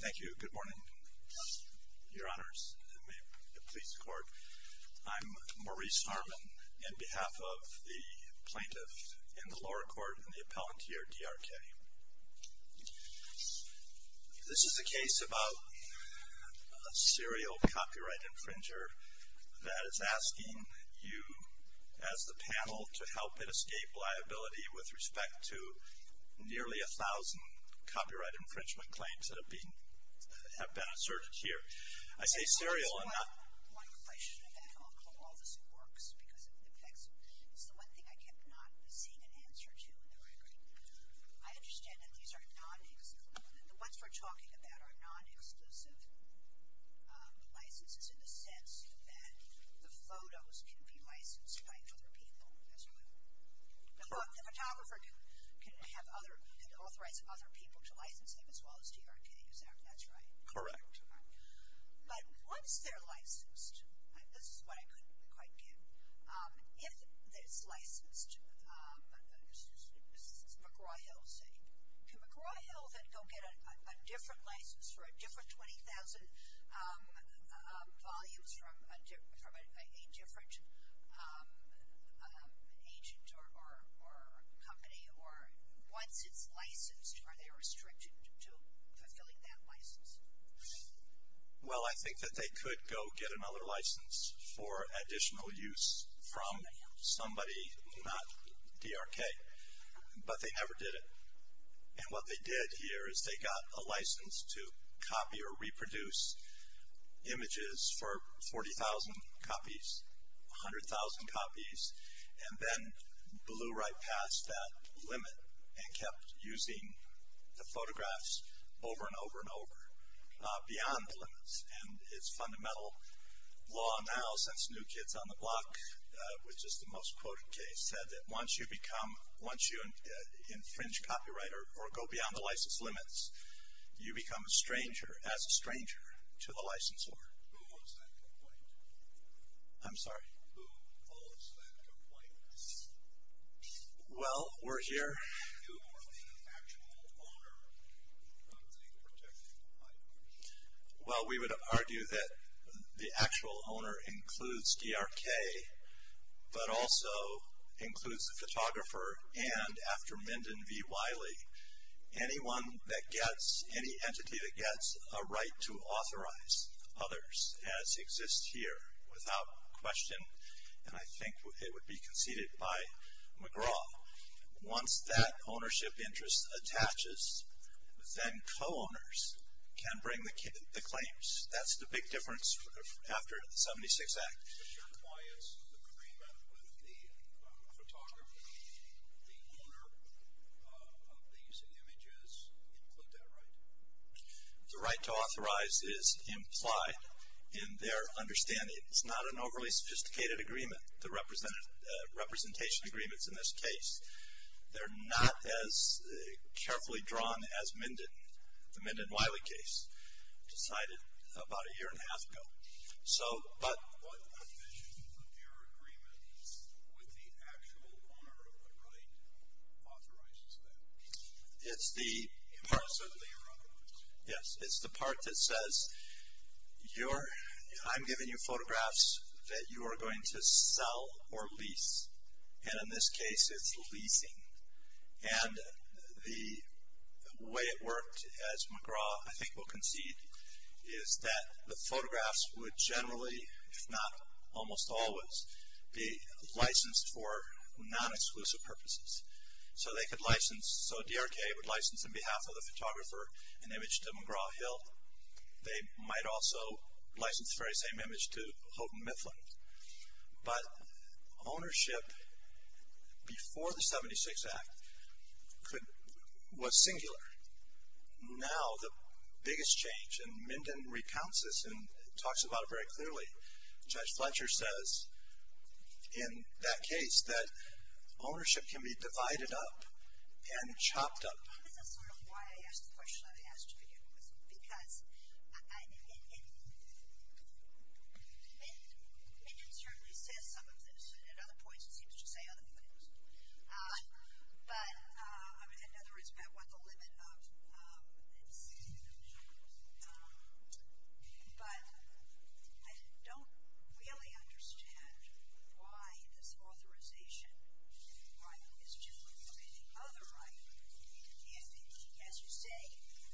Thank you. Good morning, Your Honors. I'm Maurice Harmon, on behalf of the plaintiff in the lower court and the appellant here, DRK. This is a case about a serial copyright infringer that is asking you, as the panel, to help it escape liability with respect to nearly a thousand copyright infringement claims that have been asserted here. I say serial, I'm not... I just want to ask one question about how all this works, because it affects... It's the one thing I kept not seeing an answer to, though, I agree. I understand that these are non-exclusive... The ones we're talking about are non-exclusive licenses, in the sense that the photos can be licensed by other people, as well. The photographer can authorize other people to license them, as well as DRK, is that right? Correct. But once they're licensed, this is what I couldn't quite get, if it's licensed, McGraw-Hill, say, can McGraw-Hill then go get a different license for a different 20,000 volumes from a different agent or company, or once it's licensed, are they restricted to fulfilling that license? Well, I think that they could go get another license for additional use from somebody, not DRK, but they never did it. And what they did here is they got a license to copy or reproduce images for 40,000 copies, 100,000 copies, and then blew right past that limit and kept using the photographs over and over and over, beyond the limits. And it's fundamental law now, since New Kids on the Block, which is the most quoted case, said that once you become, once you infringe copyright or go beyond the license limits, you become a stranger, as a stranger to the licensor. Who holds that complaint? I'm sorry? Who holds that complaint? Well, we're here. Who are the actual owner of the particular item? Well, we would argue that the actual owner includes DRK, but also includes the photographer and, after Minden v. Wiley, anyone that gets, any entity that gets a right to authorize others, as exists here, without question, and I think it would be conceded by McGraw. Once that ownership interest attaches, then co-owners can bring the claims. That's the big difference after the 76 Act. But that requires agreement with the photographer, the owner of these images, to put that right? The right to authorize is implied in their understanding. It's not an overly sophisticated agreement, the representation agreements in this case. They're not as carefully drawn as Minden, the Minden-Wiley case, decided about a year and a half ago. So, but. What provision of your agreement with the actual owner of the right authorizes that? It's the. Impartially or otherwise. Yes, it's the part that says, I'm giving you photographs that you are going to sell or lease. And in this case, it's leasing. And the way it worked, as McGraw, I think, will concede, is that the photographs would generally, if not almost always, be licensed for non-exclusive purposes. So, they could license. So, DRK would license on behalf of the photographer an image to McGraw Hill. They might also license the very same image to Houghton Mifflin. But ownership before the 76 Act was singular. Now, the biggest change, and Minden recounts this and talks about it very clearly. Judge Fletcher says, in that case, that ownership can be divided up and chopped up. This is sort of why I asked the question I was asked to begin with. Because Minden certainly says some of this. And at other points, it seems to say other things. But, in other words, about what the limit of. But I don't really understand why this authorization right is different from the other right. If, as you say,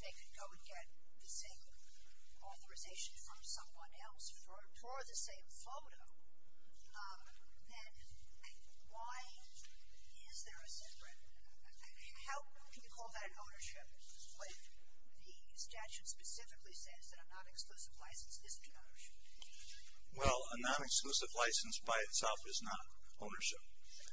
they could go and get the same authorization from someone else for the same photo, then why is there a separate? How can you call that ownership when the statute specifically says that a non-exclusive license is not ownership? Well, a non-exclusive license by itself is not ownership.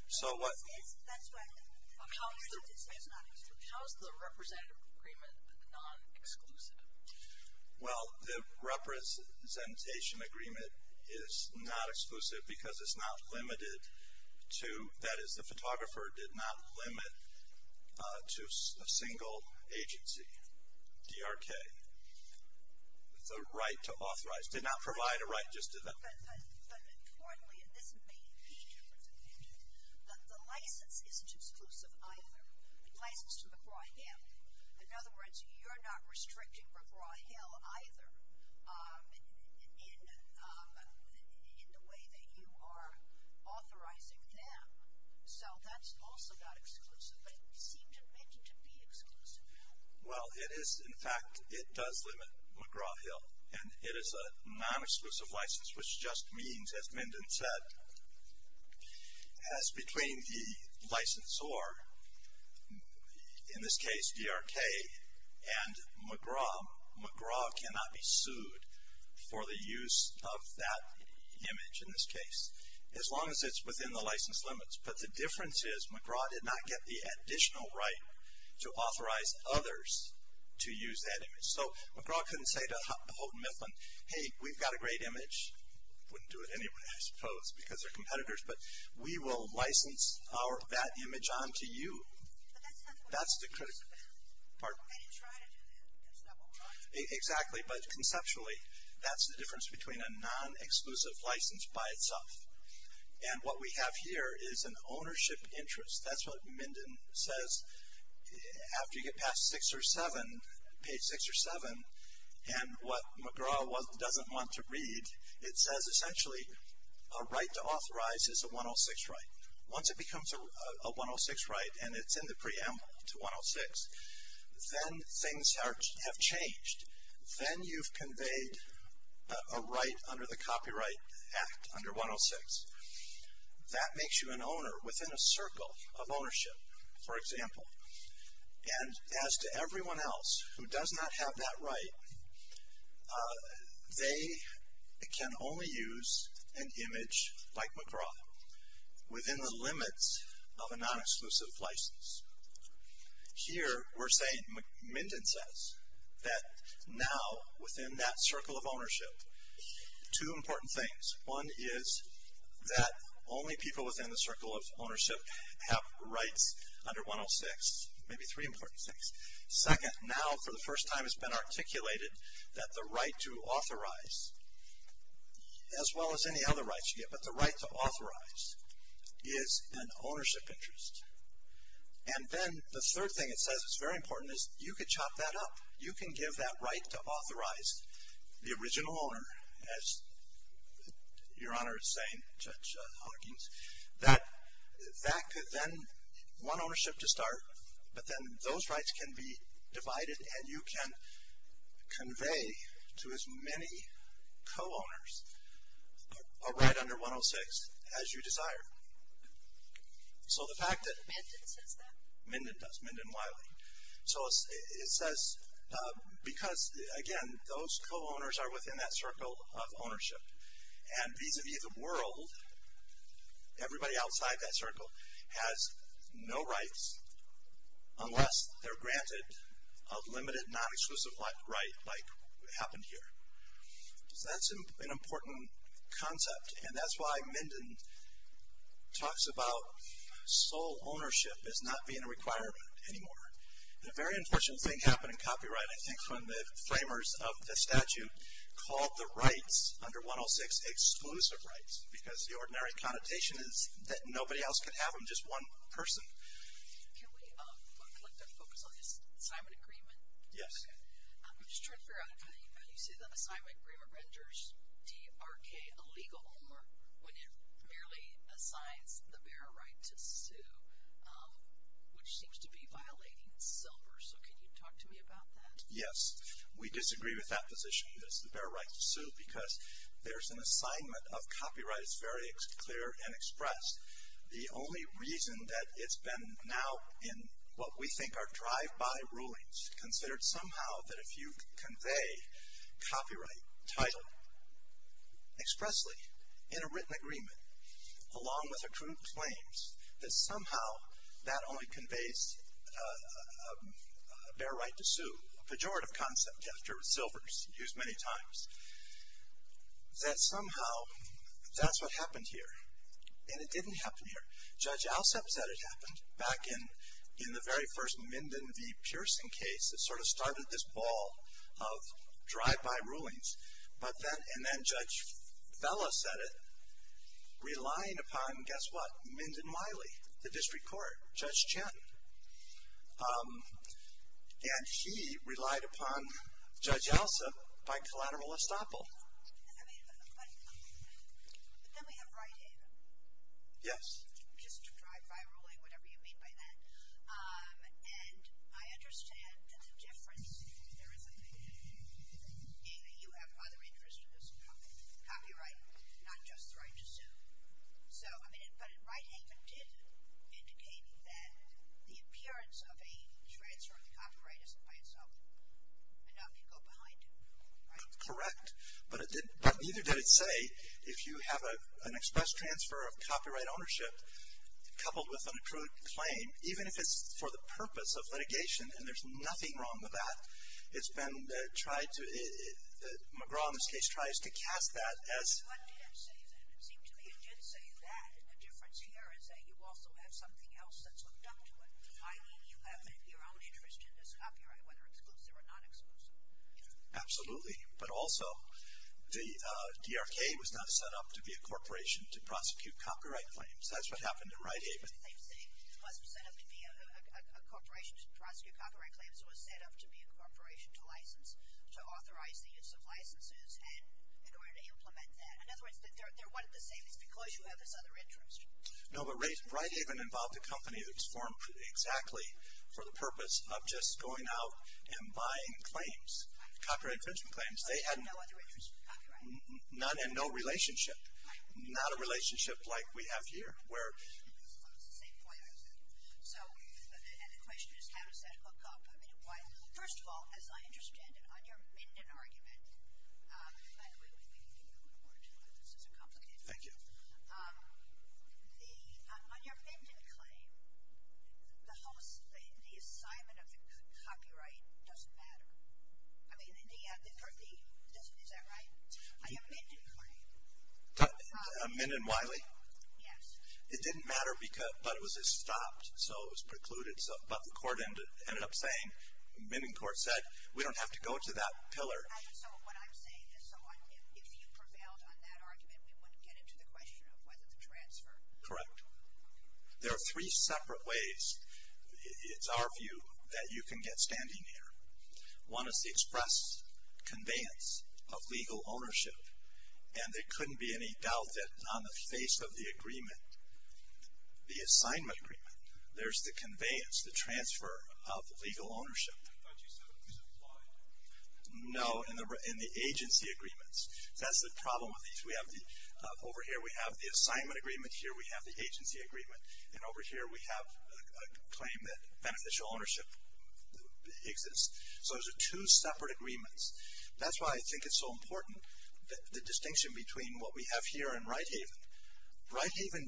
So, what. How is the representative agreement non-exclusive? Well, the representation agreement is not exclusive because it's not limited to. That is, the photographer did not limit to a single agency, DRK. It's a right to authorize. It did not provide a right just to the. But, importantly, and this may be different than Minden, the license isn't exclusive either. The license to McGraw-Hill. In other words, you're not restricting McGraw-Hill either in the way that you are authorizing them. So, that's also not exclusive. But it seemed in Minden to be exclusive. Well, it is. In fact, it does limit McGraw-Hill. And it is a non-exclusive license, which just means, as Minden said, as between the licensor, in this case DRK, and McGraw, McGraw cannot be sued for the use of that image in this case. As long as it's within the license limits. But the difference is McGraw did not get the additional right to authorize others to use that image. So, McGraw couldn't say to Houghton Mifflin, hey, we've got a great image. Wouldn't do it anyway, I suppose, because they're competitors. But we will license that image onto you. That's the critical part. Exactly. But conceptually, that's the difference between a non-exclusive license by itself. And what we have here is an ownership interest. That's what Minden says. After you get past six or seven, page six or seven, and what McGraw doesn't want to read, it says essentially a right to authorize is a 106 right. Once it becomes a 106 right and it's in the preamble to 106, then things have changed. Then you've conveyed a right under the Copyright Act under 106. That makes you an owner within a circle of ownership. For example, and as to everyone else who does not have that right, they can only use an image like McGraw within the limits of a non-exclusive license. Here we're saying, Minden says, that now within that circle of ownership, two important things. One is that only people within the circle of ownership have rights under 106. Maybe three important things. Second, now for the first time it's been articulated that the right to authorize, as well as any other rights you get, but the right to authorize is an ownership interest. And then the third thing it says that's very important is you could chop that up. You can give that right to authorize the original owner, as Your Honor is saying, Judge Hawkins, that could then, one ownership to start, but then those rights can be divided and you can convey to as many co-owners a right under 106 as you desire. So the fact that- Minden says that? Minden does, Minden Wiley. So it says because, again, those co-owners are within that circle of ownership. And vis-a-vis the world, everybody outside that circle has no rights unless they're granted a limited, non-exclusive right like happened here. So that's an important concept. And that's why Minden talks about sole ownership as not being a requirement anymore. And a very unfortunate thing happened in copyright, I think, from the framers of the statute called the rights under 106 exclusive rights because the ordinary connotation is that nobody else can have them, just one person. Can we focus on the assignment agreement? Yes. I'm just trying to figure out how you say the assignment agreement renders DRK a legal homework when it merely assigns the bearer right to sue, which seems to be violating silver. So can you talk to me about that? Yes. We disagree with that position, the bearer right to sue, because there's an assignment of copyright that's very clear and expressed. The only reason that it's been now in what we think are drive-by rulings, considered somehow that if you convey copyright title expressly in a written agreement, along with accrued claims, that somehow that only conveys a bearer right to sue, a pejorative concept after silvers used many times, that somehow that's what happened here. And it didn't happen here. Judge Alsep said it happened back in the very first Minden v. Pearson case that sort of started this ball of drive-by rulings. And then Judge Fella said it, relying upon, guess what, Minden-Miley, the district court, Judge Chen. And he relied upon Judge Alsep by collateral estoppel. I mean, but then we have Wright-Haven. Yes. Just drive-by ruling, whatever you mean by that. And I understand that the difference, if there is a big difference, being that you have other interests as well, copyright, not just the right to sue. So, I mean, but Wright-Haven did indicate that the appearance of a transfer of the copyright isn't by itself enough to go behind a rule, right? Correct. But neither did it say if you have an express transfer of copyright ownership coupled with an accrued claim, even if it's for the purpose of litigation, and there's nothing wrong with that, it's been tried to, McGraw in this case tries to cast that as... What did it say then? It seemed to me it did say that. And the difference here is that you also have something else that's hooked up to it, i.e. you have your own interest in this copyright, whether exclusive or non-exclusive. Absolutely. But also, the DRK was not set up to be a corporation to prosecute copyright claims. That's what happened in Wright-Haven. It wasn't set up to be a corporation to prosecute copyright claims. It was set up to be a corporation to license, to authorize the use of licenses and in order to implement that. In other words, they're one and the same. It's because you have this other interest. of just going out and buying claims, copyright infringement claims. They had no other interest in copyright. None and no relationship. Not a relationship like we have here, where... It's the same point I was making. So, and the question is how does that hook up? First of all, as I understand it, on your Minden argument, by the way, we can keep going forward. This is a complicated one. Thank you. On your Minden claim, the assignment of the copyright doesn't matter. I mean, is that right? On your Minden claim. Minden-Wiley? Yes. It didn't matter, but it was stopped. So, it was precluded. But the court ended up saying, Minden court said, we don't have to go to that pillar. So, what I'm saying is, if you prevailed on that argument, we wouldn't get into the question of whether to transfer. Correct. There are three separate ways, it's our view, that you can get standing here. One is the express conveyance of legal ownership. And there couldn't be any doubt that on the face of the agreement, the assignment agreement, there's the conveyance, the transfer of legal ownership. I thought you said it was implied. No, in the agency agreements. That's the problem with these. Over here, we have the assignment agreement. Here, we have the agency agreement. And over here, we have a claim that beneficial ownership exists. So, those are two separate agreements. That's why I think it's so important, the distinction between what we have here and Righthaven. Righthaven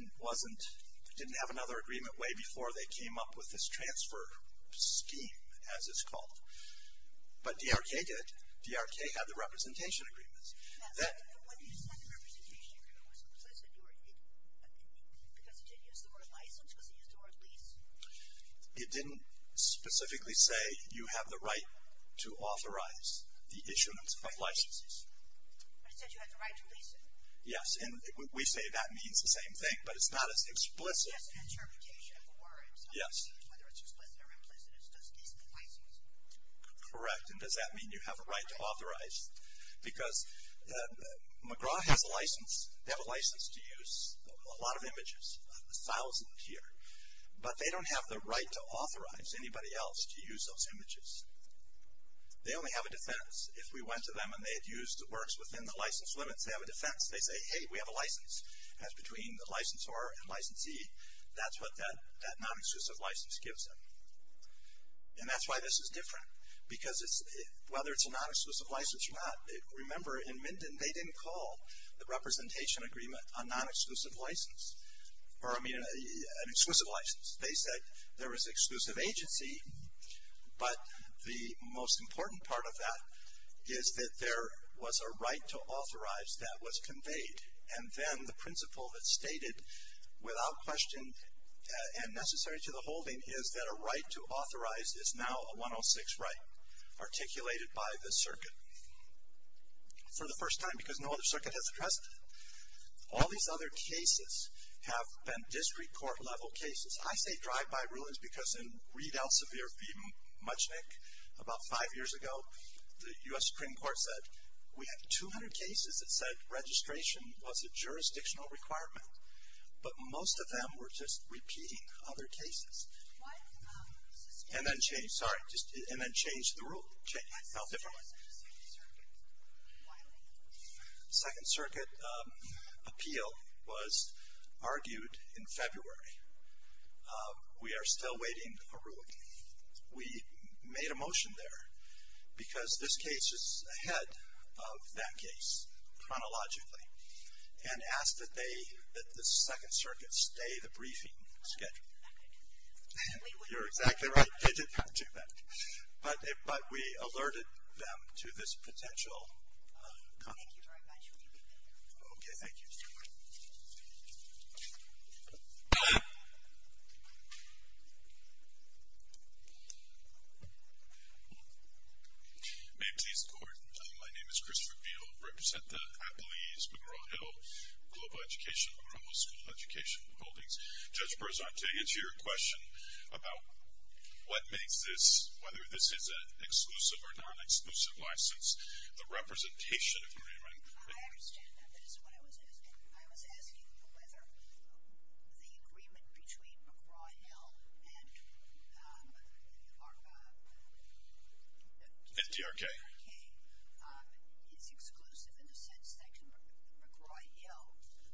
didn't have another agreement way before they came up with this transfer scheme, as it's called. But DRK did. DRK had the representation agreements. Now, when you said the representation agreement was implicit, because it didn't use the word license, was it used the word lease? It didn't specifically say you have the right to authorize the issuance of licenses. But it said you had the right to lease it. Yes, and we say that means the same thing, but it's not as explicit. It's just an interpretation of the word. Yes. Correct, and does that mean you have a right to authorize? Because McGraw has a license. They have a license to use a lot of images, a thousand here. But they don't have the right to authorize anybody else to use those images. They only have a defense. If we went to them and they had used works within the license limits, they have a defense. They say, hey, we have a license. That's between the licensor and licensee. That's what that non-exclusive license gives them. And that's why this is different. Because whether it's a non-exclusive license or not, remember in Minden they didn't call the representation agreement a non-exclusive license or, I mean, an exclusive license. They said there was exclusive agency. But the most important part of that is that there was a right to authorize that was conveyed. And then the principle that's stated without question and necessary to the holding is that a right to authorize is now a 106 right, articulated by the circuit. For the first time, because no other circuit has addressed it, all these other cases have been district court level cases. I say drive-by rulings because in Reed Elsevier v. Muchnick about five years ago, the U.S. Supreme Court said, we have 200 cases that said registration was a jurisdictional requirement. But most of them were just repeating other cases. And then changed the rule. No, different one. Second Circuit appeal was argued in February. We are still waiting for ruling. We made a motion there because this case is ahead of that case chronologically. And asked that the Second Circuit stay the briefing schedule. You're exactly right. They didn't have to do that. But we alerted them to this potential. Thank you very much. We'll be right back. Okay. Thank you. May it please the court. My name is Christopher Beal. I represent the Appellees Monroe Hill Global Education, Monroe School Education Holdings. Judge Berzante, it's your question about what makes this, whether this is an exclusive or non-exclusive license. The representation agreement. I understand that. That is what I was asking. I was asking whether the agreement between McGraw-Hill and TRK is exclusive in the sense that McGraw-Hill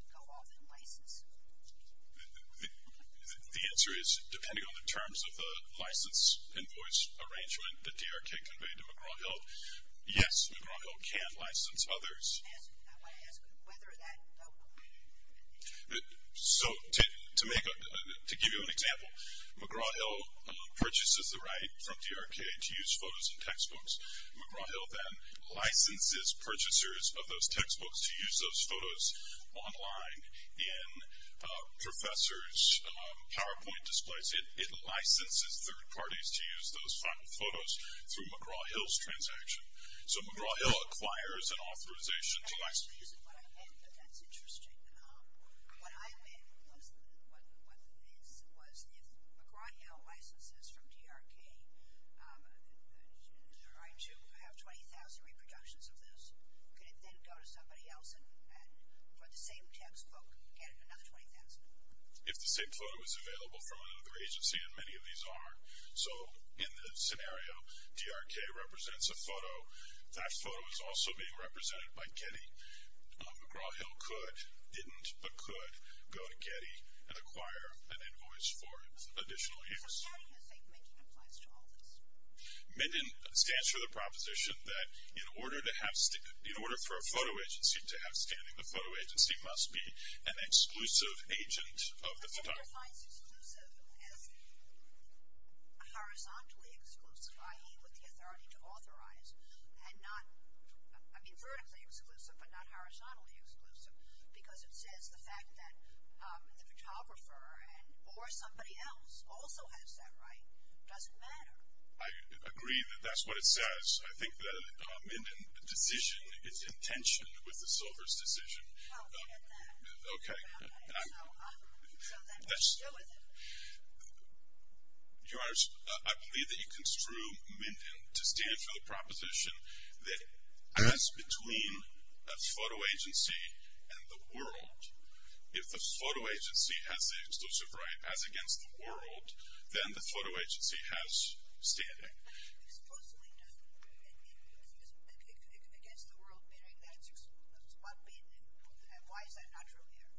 go off in license. The answer is depending on the terms of the license invoice arrangement that TRK conveyed to McGraw-Hill. Yes, McGraw-Hill can license others. I want to ask whether that. So to give you an example, McGraw-Hill purchases the right from TRK to use photos in textbooks. McGraw-Hill then licenses purchasers of those textbooks to use those photos online in professors' PowerPoint displays. It licenses third parties to use those final photos through McGraw-Hill's transaction. So McGraw-Hill acquires an authorization to license. That's interesting. What I meant was if McGraw-Hill licenses from TRK to have 20,000 reproductions of this, could it then go to somebody else and for the same textbook get another 20,000? If the same photo is available from another agency, and many of these are. So in this scenario, TRK represents a photo. That photo is also being represented by Getty. McGraw-Hill could, didn't, but could go to Getty and acquire an invoice for additional use. So scanning and safe making applies to all of us. Minden stands for the proposition that in order for a photo agency to have scanning, the photo agency must be an exclusive agent of the photographer. Minden defines exclusive as horizontally exclusive, i.e., with the authority to authorize, and not, I mean, vertically exclusive but not horizontally exclusive because it says the fact that the photographer or somebody else also has that right doesn't matter. I agree that that's what it says. I think the Minden decision is intentioned with the Silver's decision. Oh, look at that. Okay. Yes. Your Honors, I believe that you construe Minden to stand for the proposition that as between a photo agency and the world, if the photo agency has the exclusive right as against the world, then the photo agency has standing. Exclusively against the world, meaning that's what Minden, and why is that not true here?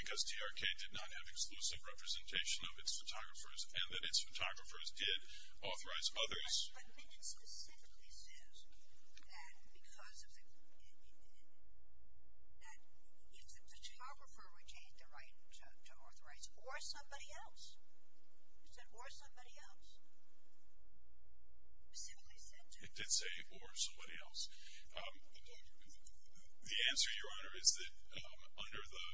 Because TRK did not have exclusive representation of its photographers and that its photographers did authorize others. But Minden specifically says that because of the, that if the photographer retained the right to authorize or somebody else, you said or somebody else? Specifically said that? It did say or somebody else. The answer, Your Honor, is that under the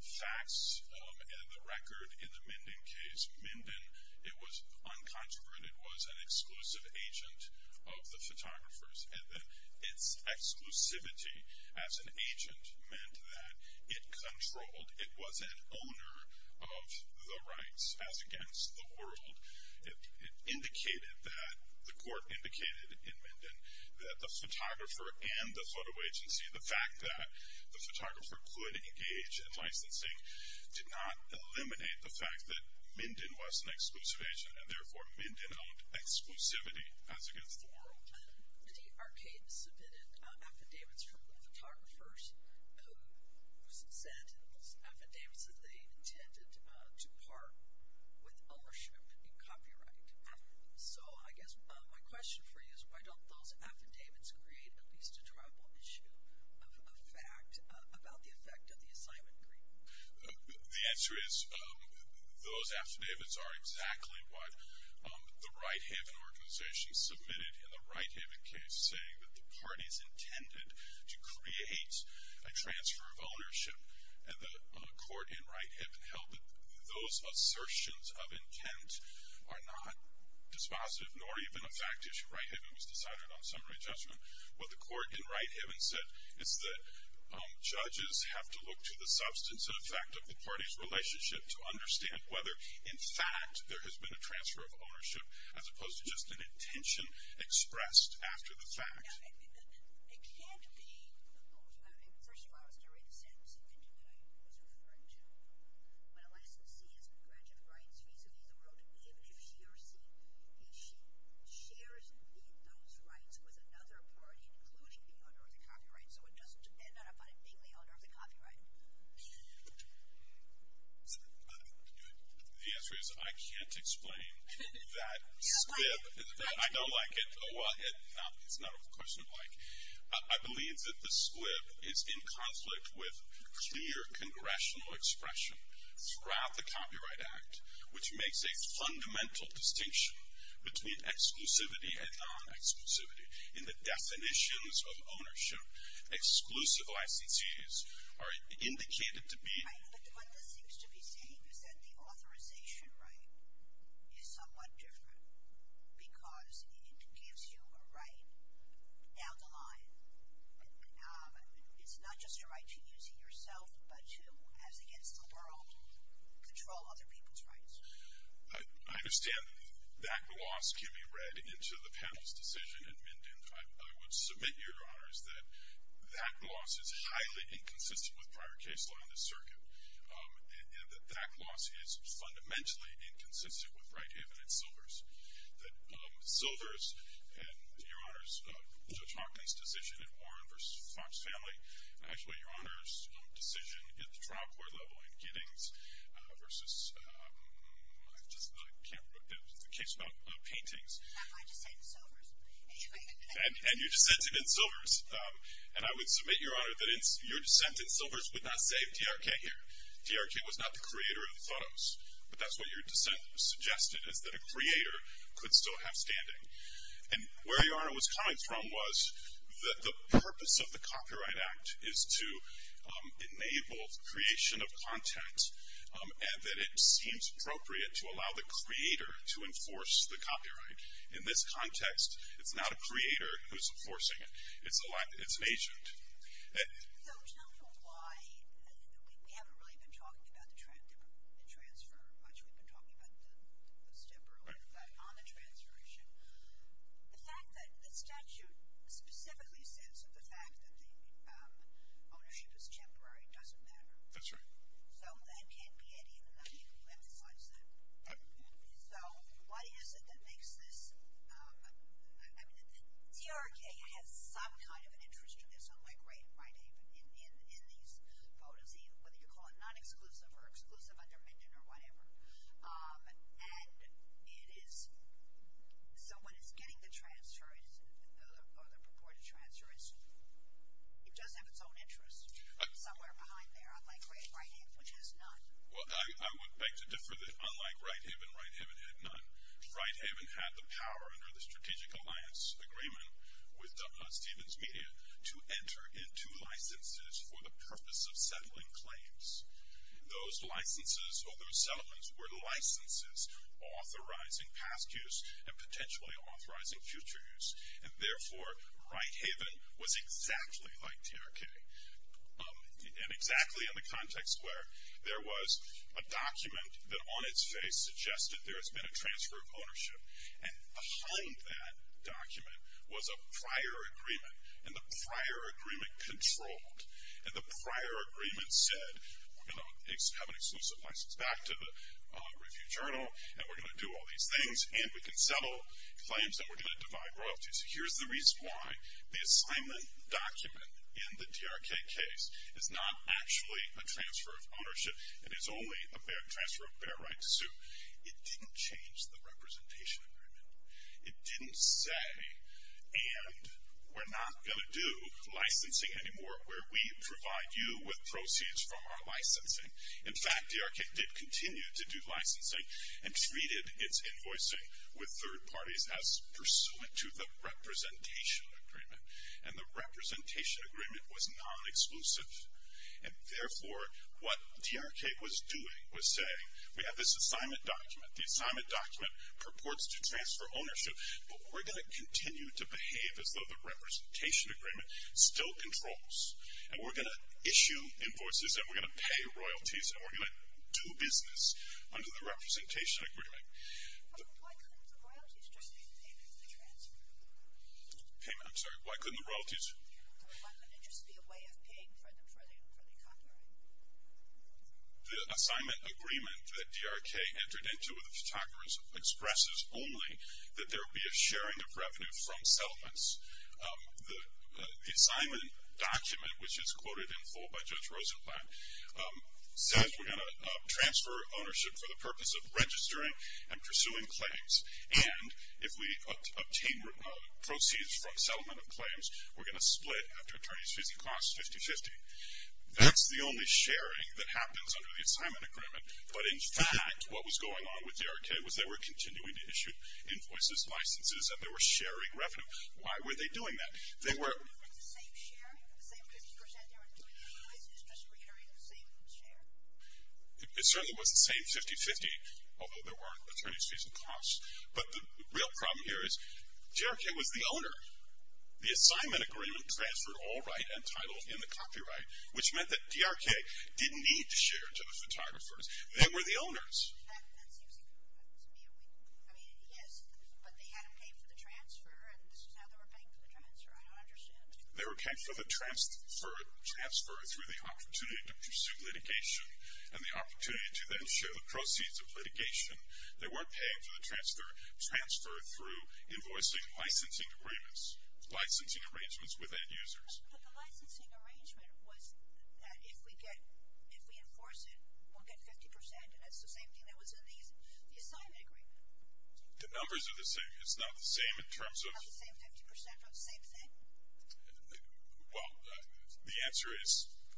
facts and the record in the Minden case, Minden, it was uncontroverted, was an exclusive agent of the photographers, and that its exclusivity as an agent meant that it controlled, it was an owner of the rights as against the world. It indicated that, the court indicated in Minden, that the photographer and the photo agency, the fact that the photographer could engage in licensing, did not eliminate the fact that Minden was an exclusive agent and therefore Minden owned exclusivity as against the world. TRK submitted affidavits from the photographers who said in those affidavits that they intended to part with ownership in copyright. So I guess my question for you is, why don't those affidavits create at least a tribal issue of fact about the effect of the assignment agreement? The answer is, those affidavits are exactly what the right-hand organization submitted in the Righthaven case, saying that the parties intended to create a transfer of ownership, and the court in Righthaven held that those assertions of intent are not dispositive, nor even a fact issue. Righthaven was decided on summary judgment. What the court in Righthaven said is that judges have to look to the substance and effect of the party's relationship to understand whether, in fact, there has been a transfer of ownership, as opposed to just an intention expressed after the fact. The answer is, I can't explain that script. I don't like it. Well, it's not a question of like. I believe that the script is in conflict with clear congressional expression throughout the Copyright Act, which makes a fundamental distinction between exclusivity and non-exclusivity. In the definitions of ownership, exclusive ICCs are indicated to be. Right, but what this seems to be saying is that the authorization right is somewhat different, because it gives you a right down the line. It's not just a right to use it yourself, but to, as against the world, control other people's rights. I understand that that loss can be read into the panel's decision in Minden. I would submit, Your Honors, that that loss is highly inconsistent with prior case law in this circuit, and that that loss is fundamentally inconsistent with right-handed silvers. Silvers, and Your Honors, Judge Hawkins' decision in Warren versus Fox Family, and actually Your Honors' decision at the trial court level in Giddings versus the case about paintings. And your dissent in silvers. And I would submit, Your Honor, that your dissent in silvers would not save DRK here. DRK was not the creator of the photos, but that's what your dissent suggested is that a creator could still have standing. And where Your Honor was coming from was that the purpose of the Copyright Act is to enable creation of content, and that it seems appropriate to allow the creator to enforce the copyright. In this context, it's not a creator who's enforcing it. It's an agent. So tell me why we haven't really been talking about the transfer much. We've been talking about the post-temporary ownership. But on the transfer issue, the fact that the statute specifically says that the fact that the ownership is temporary doesn't matter. That's right. So that can't be anything if you emphasize that. So what is it that makes this? DRK has some kind of an interest in this, unlike Righthaven in these photos, whether you call it non-exclusive or exclusive under Minden or whatever. And so when it's getting the transfer or the purported transfer, it does have its own interest somewhere behind there, unlike Righthaven, which has none. Well, I would beg to differ that unlike Righthaven, Righthaven had none. Righthaven had the power under the Strategic Alliance Agreement with Stevens Media to enter into licenses for the purpose of settling claims. Those licenses or those settlements were licenses authorizing past use and potentially authorizing future use. And, therefore, Righthaven was exactly like DRK, and exactly in the context where there was a document that, on its face, suggested there has been a transfer of ownership. And behind that document was a prior agreement, and the prior agreement controlled. And the prior agreement said, we're going to have an exclusive license back to the Review-Journal, and we're going to do all these things, and we can settle claims, and we're going to divide royalties. Here's the reason why. The assignment document in the DRK case is not actually a transfer of ownership, and it's only a transfer of bear right to sue. It didn't change the representation agreement. It didn't say, and we're not going to do licensing anymore, where we provide you with proceeds from our licensing. In fact, DRK did continue to do licensing and treated its invoicing with third parties as pursuant to the representation agreement. And the representation agreement was non-exclusive. And therefore, what DRK was doing was saying, we have this assignment document. The assignment document purports to transfer ownership, but we're going to continue to behave as though the representation agreement still controls, and we're going to issue invoices, and we're going to pay royalties, and we're going to do business under the representation agreement. Why couldn't the royalties just be payment for the transfer? I'm sorry, why couldn't the royalties? Why couldn't it just be a way of paying for the copyright? The assignment agreement that DRK entered into with the photographers expresses only that there will be a sharing of revenue from settlements. The assignment document, which is quoted in full by Judge Rosenblatt, says we're going to transfer ownership for the purpose of registering and pursuing claims. And if we obtain proceeds from settlement of claims, we're going to split after attorneys 50-50. That's the only sharing that happens under the assignment agreement. But in fact, what was going on with DRK was they were continuing to issue invoices, licenses, and they were sharing revenue. Why were they doing that? They were... It certainly wasn't the same 50-50, although there were attorneys facing costs. But the real problem here is DRK was the owner. The assignment agreement transferred all right and title in the copyright, which meant that DRK didn't need to share to the photographers. They were the owners. They were paying for the transfer through the opportunity to pursue litigation and the opportunity to then share the proceeds of litigation. They weren't paying for the transfer through invoicing licensing agreements, licensing arrangements with end users. The numbers are the same. It's not the same in terms of... Well, the answer is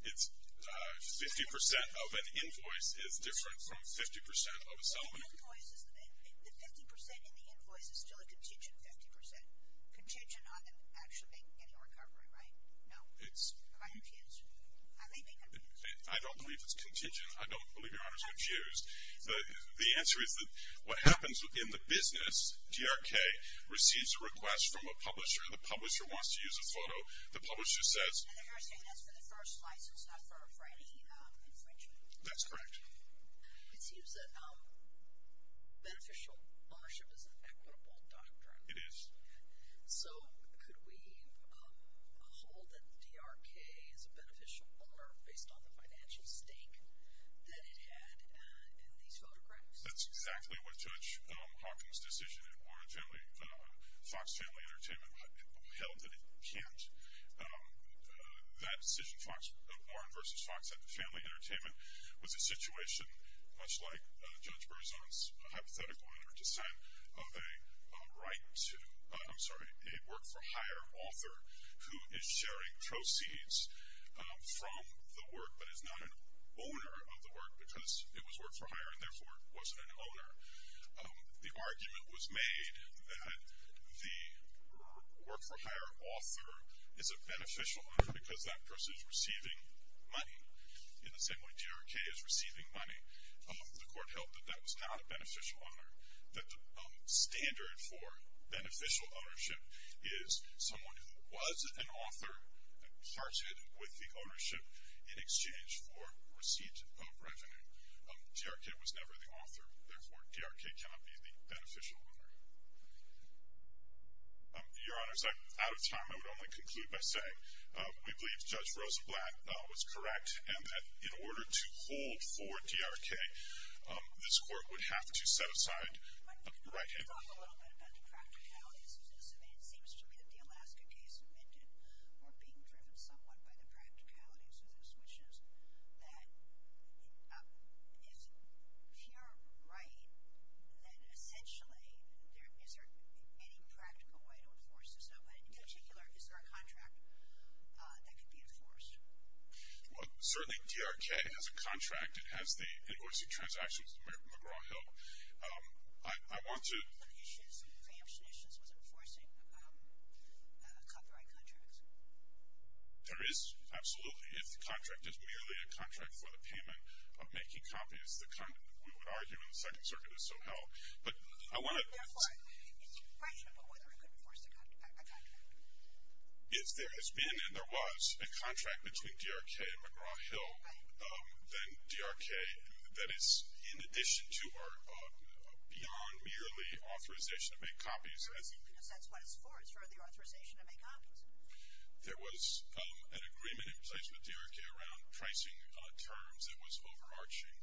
it's 50% of an invoice is different from 50% of a settlement. The 50% in the invoice is still a contingent 50%. Contingent on them actually getting a recovery, right? No. I'm confused. I don't believe it's contingent. I don't believe Your Honor's confused. The answer is that what happens in the business, DRK receives a request from a publisher, the publisher wants to use a photo. The publisher says... And they're saying that's for the first license, not for any infringement. That's correct. It seems that beneficial ownership is an equitable doctrine. It is. So could we hold that DRK is a beneficial owner based on the financial stake that it had in these photographs? That's exactly what Judge Hawkins decision in Fox Family Entertainment held that it can't. That decision, Warren v. Fox Family Entertainment, was a situation much like Judge Berzon's hypothetical under dissent of a right to... I'm sorry, a work-for-hire author who is sharing proceeds from the work but is not an owner of the work because it was work-for-hire and therefore wasn't an owner. The argument was made that the work-for-hire author is a beneficial owner because that person is receiving money in the same way DRK is receiving money. The court held that that was not a beneficial owner, that the standard for beneficial ownership is someone who was an author and parted with the ownership in exchange for receipt of revenue. DRK was never the author. Therefore, DRK cannot be the beneficial owner. Your Honors, out of time, I would only conclude by saying we believe Judge Rosa Blatt was correct and that in order to hold for DRK, this court would have to set aside the right... Can you talk a little bit about the practicalities of this event? It seems to me that the Alaska case amended or being driven somewhat by the practicalities of this, that if TRR were right, then essentially is there any practical way to enforce this? In particular, is there a contract that could be enforced? Well, certainly DRK has a contract. It has the invoicing transactions with McGraw-Hill. I want to... One of the issues, preemption issues, was enforcing copyright contracts. There is, absolutely. If the contract is merely a contract for the payment of making copies, the kind we would argue in the Second Circuit is so-held. But I want to... Therefore, is it questionable whether it could enforce a contract? If there has been and there was a contract between DRK and McGraw-Hill, then DRK, that is in addition to or beyond merely authorization to make copies... That's simply because that's what it's for. It's for the authorization to make copies. There was an agreement in place with DRK around pricing terms. It was overarching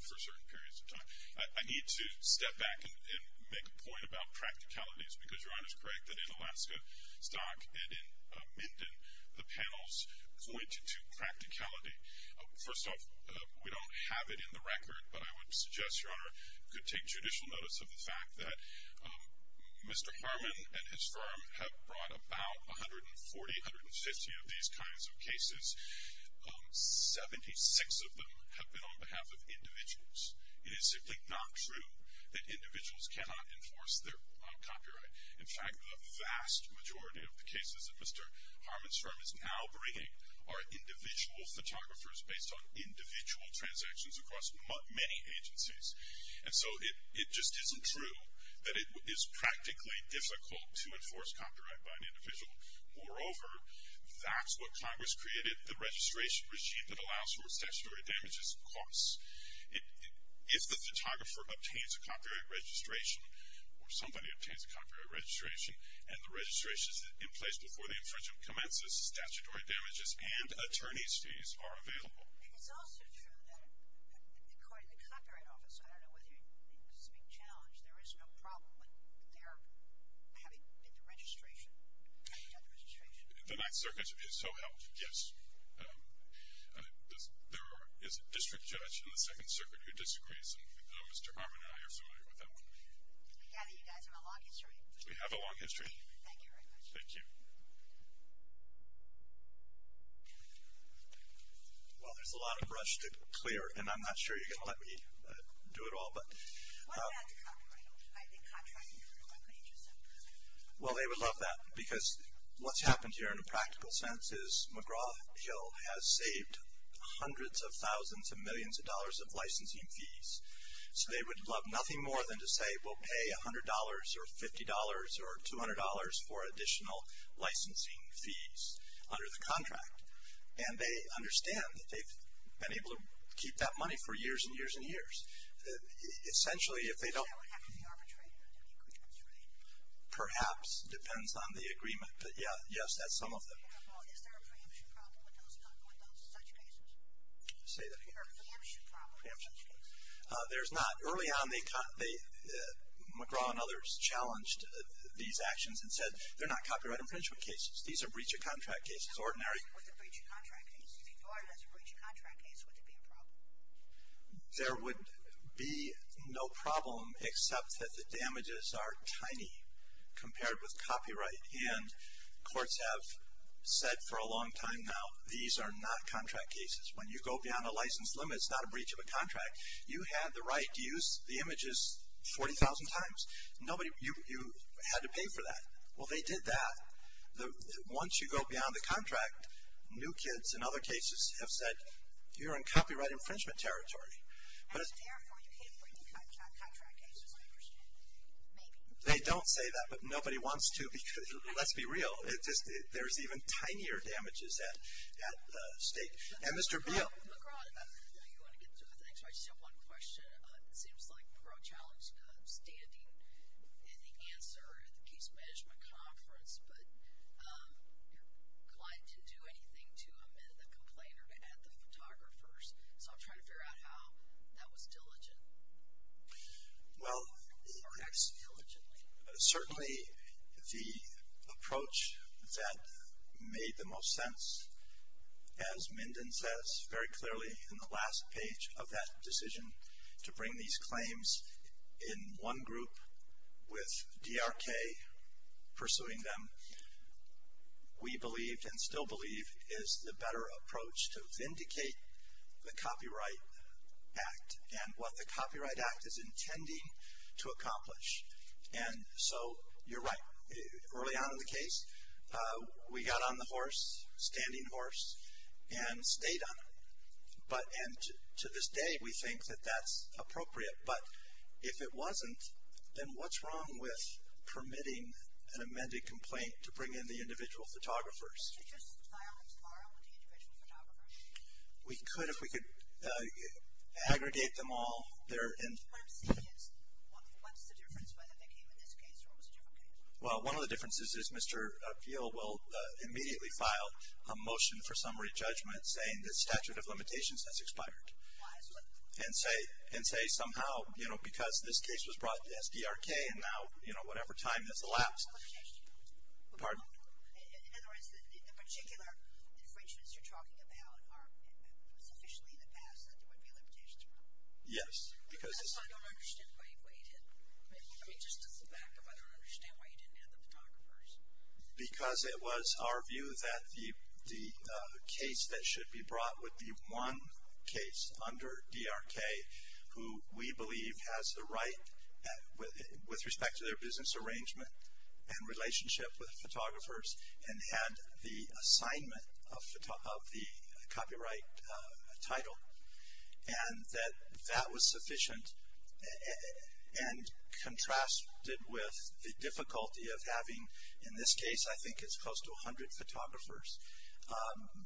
for certain periods of time. I need to step back and make a point about practicalities because Your Honour is correct that in Alaska stock and in Minden, the panels point to practicality. First off, we don't have it in the record, but I would suggest, Your Honour, you could take judicial notice of the fact that Mr. Harmon and his firm have brought about 140, 150 of these kinds of cases. Seventy-six of them have been on behalf of individuals. It is simply not true that individuals cannot enforce their copyright. In fact, the vast majority of the cases that Mr. Harmon's firm is now bringing are individual photographers based on individual transactions across many agencies. And so it just isn't true that it is practically difficult to enforce copyright by an individual. Moreover, that's what Congress created, the registration regime that allows for statutory damages and costs. If the photographer obtains a copyright registration or somebody obtains a copyright registration and the registration is in place before the infringement commences, statutory damages and attorney's fees are available. It's also true that according to the Copyright Office, I don't know whether you speak challenge, there is no problem with their having bid the registration, having done the registration. The Ninth Circuit should be so helped, yes. There is a district judge in the Second Circuit who disagrees, and Mr. Harmon and I are familiar with that one. I gather you guys have a long history. We have a long history. Thank you very much. Thank you. Well, there's a lot of brush to clear, and I'm not sure you're going to let me do it all. Well, they would love that because what's happened here in a practical sense is McGraw-Hill has saved hundreds of thousands of millions of dollars of licensing fees. So they would love nothing more than to say, they will pay $100 or $50 or $200 for additional licensing fees under the contract. And they understand that they've been able to keep that money for years and years and years. Essentially, if they don't. Does that have to be arbitrary? Perhaps. It depends on the agreement. But, yes, that's some of them. Is there a preemption problem with those in such cases? Say that again. A preemption problem in such cases? There's not. Early on, McGraw and others challenged these actions and said they're not copyright infringement cases. These are breach of contract cases. Ordinary. With a breach of contract case? If you thought it was a breach of contract case, would there be a problem? There would be no problem except that the damages are tiny compared with copyright. And courts have said for a long time now, these are not contract cases. When you go beyond a license limit, it's not a breach of a contract. You had the right to use the images 40,000 times. You had to pay for that. Well, they did that. Once you go beyond the contract, new kids in other cases have said, you're in copyright infringement territory. And, therefore, you can't break the contract cases, I understand. Maybe. They don't say that, but nobody wants to. Let's be real. There's even tinier damages at stake. And Mr. Beal. Thanks. I just have one question. It seems like Perot challenged standing in the answer at the case management conference, but your client didn't do anything to him and the complainer had the photographers. So I'm trying to figure out how that was diligent. Well, certainly the approach that made the most sense, as Minden says very clearly in the last page of that decision to bring these claims in one group with DRK pursuing them, we believed and still believe is the better approach to vindicate the Copyright Act and what the Copyright Act is intending to accomplish. And so you're right. Early on in the case, we got on the horse, standing horse, and stayed on it. And to this day, we think that that's appropriate. But if it wasn't, then what's wrong with permitting an amended complaint to bring in the individual photographers? Couldn't you just file them tomorrow with the individual photographers? We could if we could aggregate them all. What I'm saying is what's the difference whether they came in this case or it was a different case? Well, one of the differences is Mr. Appeal will immediately file a motion for summary judgment saying the statute of limitations has expired. And say somehow, you know, because this case was brought to SDRK and now, you know, whatever time has elapsed. Pardon? In other words, the particular infringements you're talking about are sufficiently in the past that there would be a limitation. Yes. Because this is. I don't understand why you waited. I mean, just as a backup, I don't understand why you didn't have the photographers. Because it was our view that the case that should be brought would be one case under DRK who we believe has the right with respect to their business arrangement and relationship with photographers and had the assignment of the copyright title. And that that was sufficient and contrasted with the difficulty of having, in this case, I think it's close to 100 photographers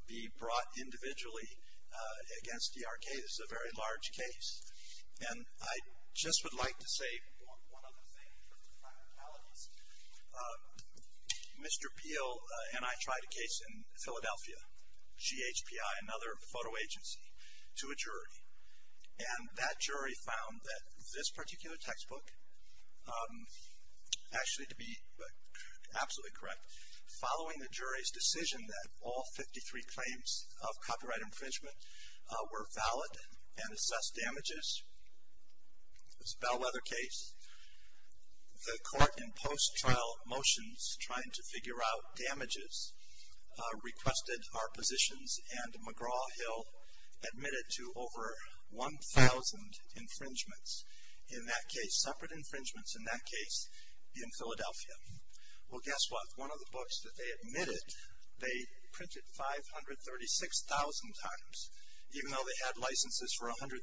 be brought individually against DRK. This is a very large case. And I just would like to say one other thing. My apologies. Mr. Peel and I tried a case in Philadelphia, GHPI, another photo agency, to a jury. And that jury found that this particular textbook, actually to be absolutely correct, following the jury's decision that all 53 claims of copyright infringement were valid and assessed damages, this Bellwether case. The court in post-trial motions trying to figure out damages requested our positions and McGraw-Hill admitted to over 1,000 infringements in that case, separate infringements in that case in Philadelphia. Well, guess what? One of the books that they admitted, they printed 536,000 times. Even though they had licenses for 100,000,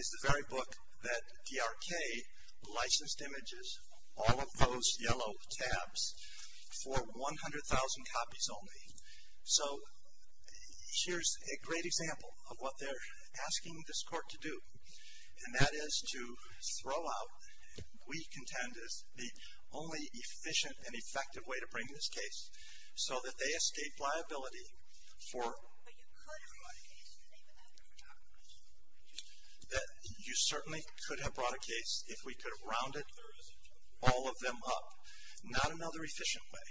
is the very book that DRK licensed images, all of those yellow tabs, for 100,000 copies only. So here's a great example of what they're asking this court to do. And that is to throw out, we contend, is the only efficient and effective way to bring this case so that they escape liability for. That you certainly could have brought a case if we could have rounded all of them up. Not another efficient way.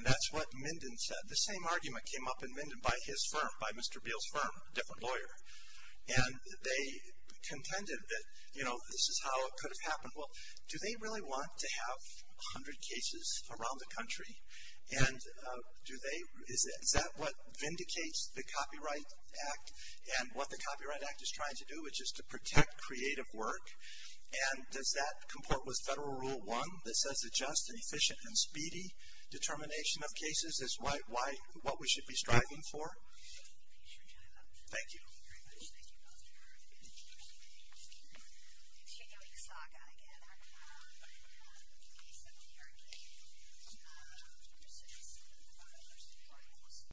And that's what Minden said. The same argument came up in Minden by his firm, by Mr. Beal's firm, a different lawyer. And they contended that, you know, this is how it could have happened. And do they, is that what vindicates the Copyright Act and what the Copyright Act is trying to do? Which is to protect creative work. And does that comport with Federal Rule 1 that says adjust an efficient and speedy determination of cases is what we should be striving for? Thank you. Thank you very much. Thank you both for continuing the saga together. I have a case that we are in. I'm not going to go into specifics. I'm going to talk about other subpoenas.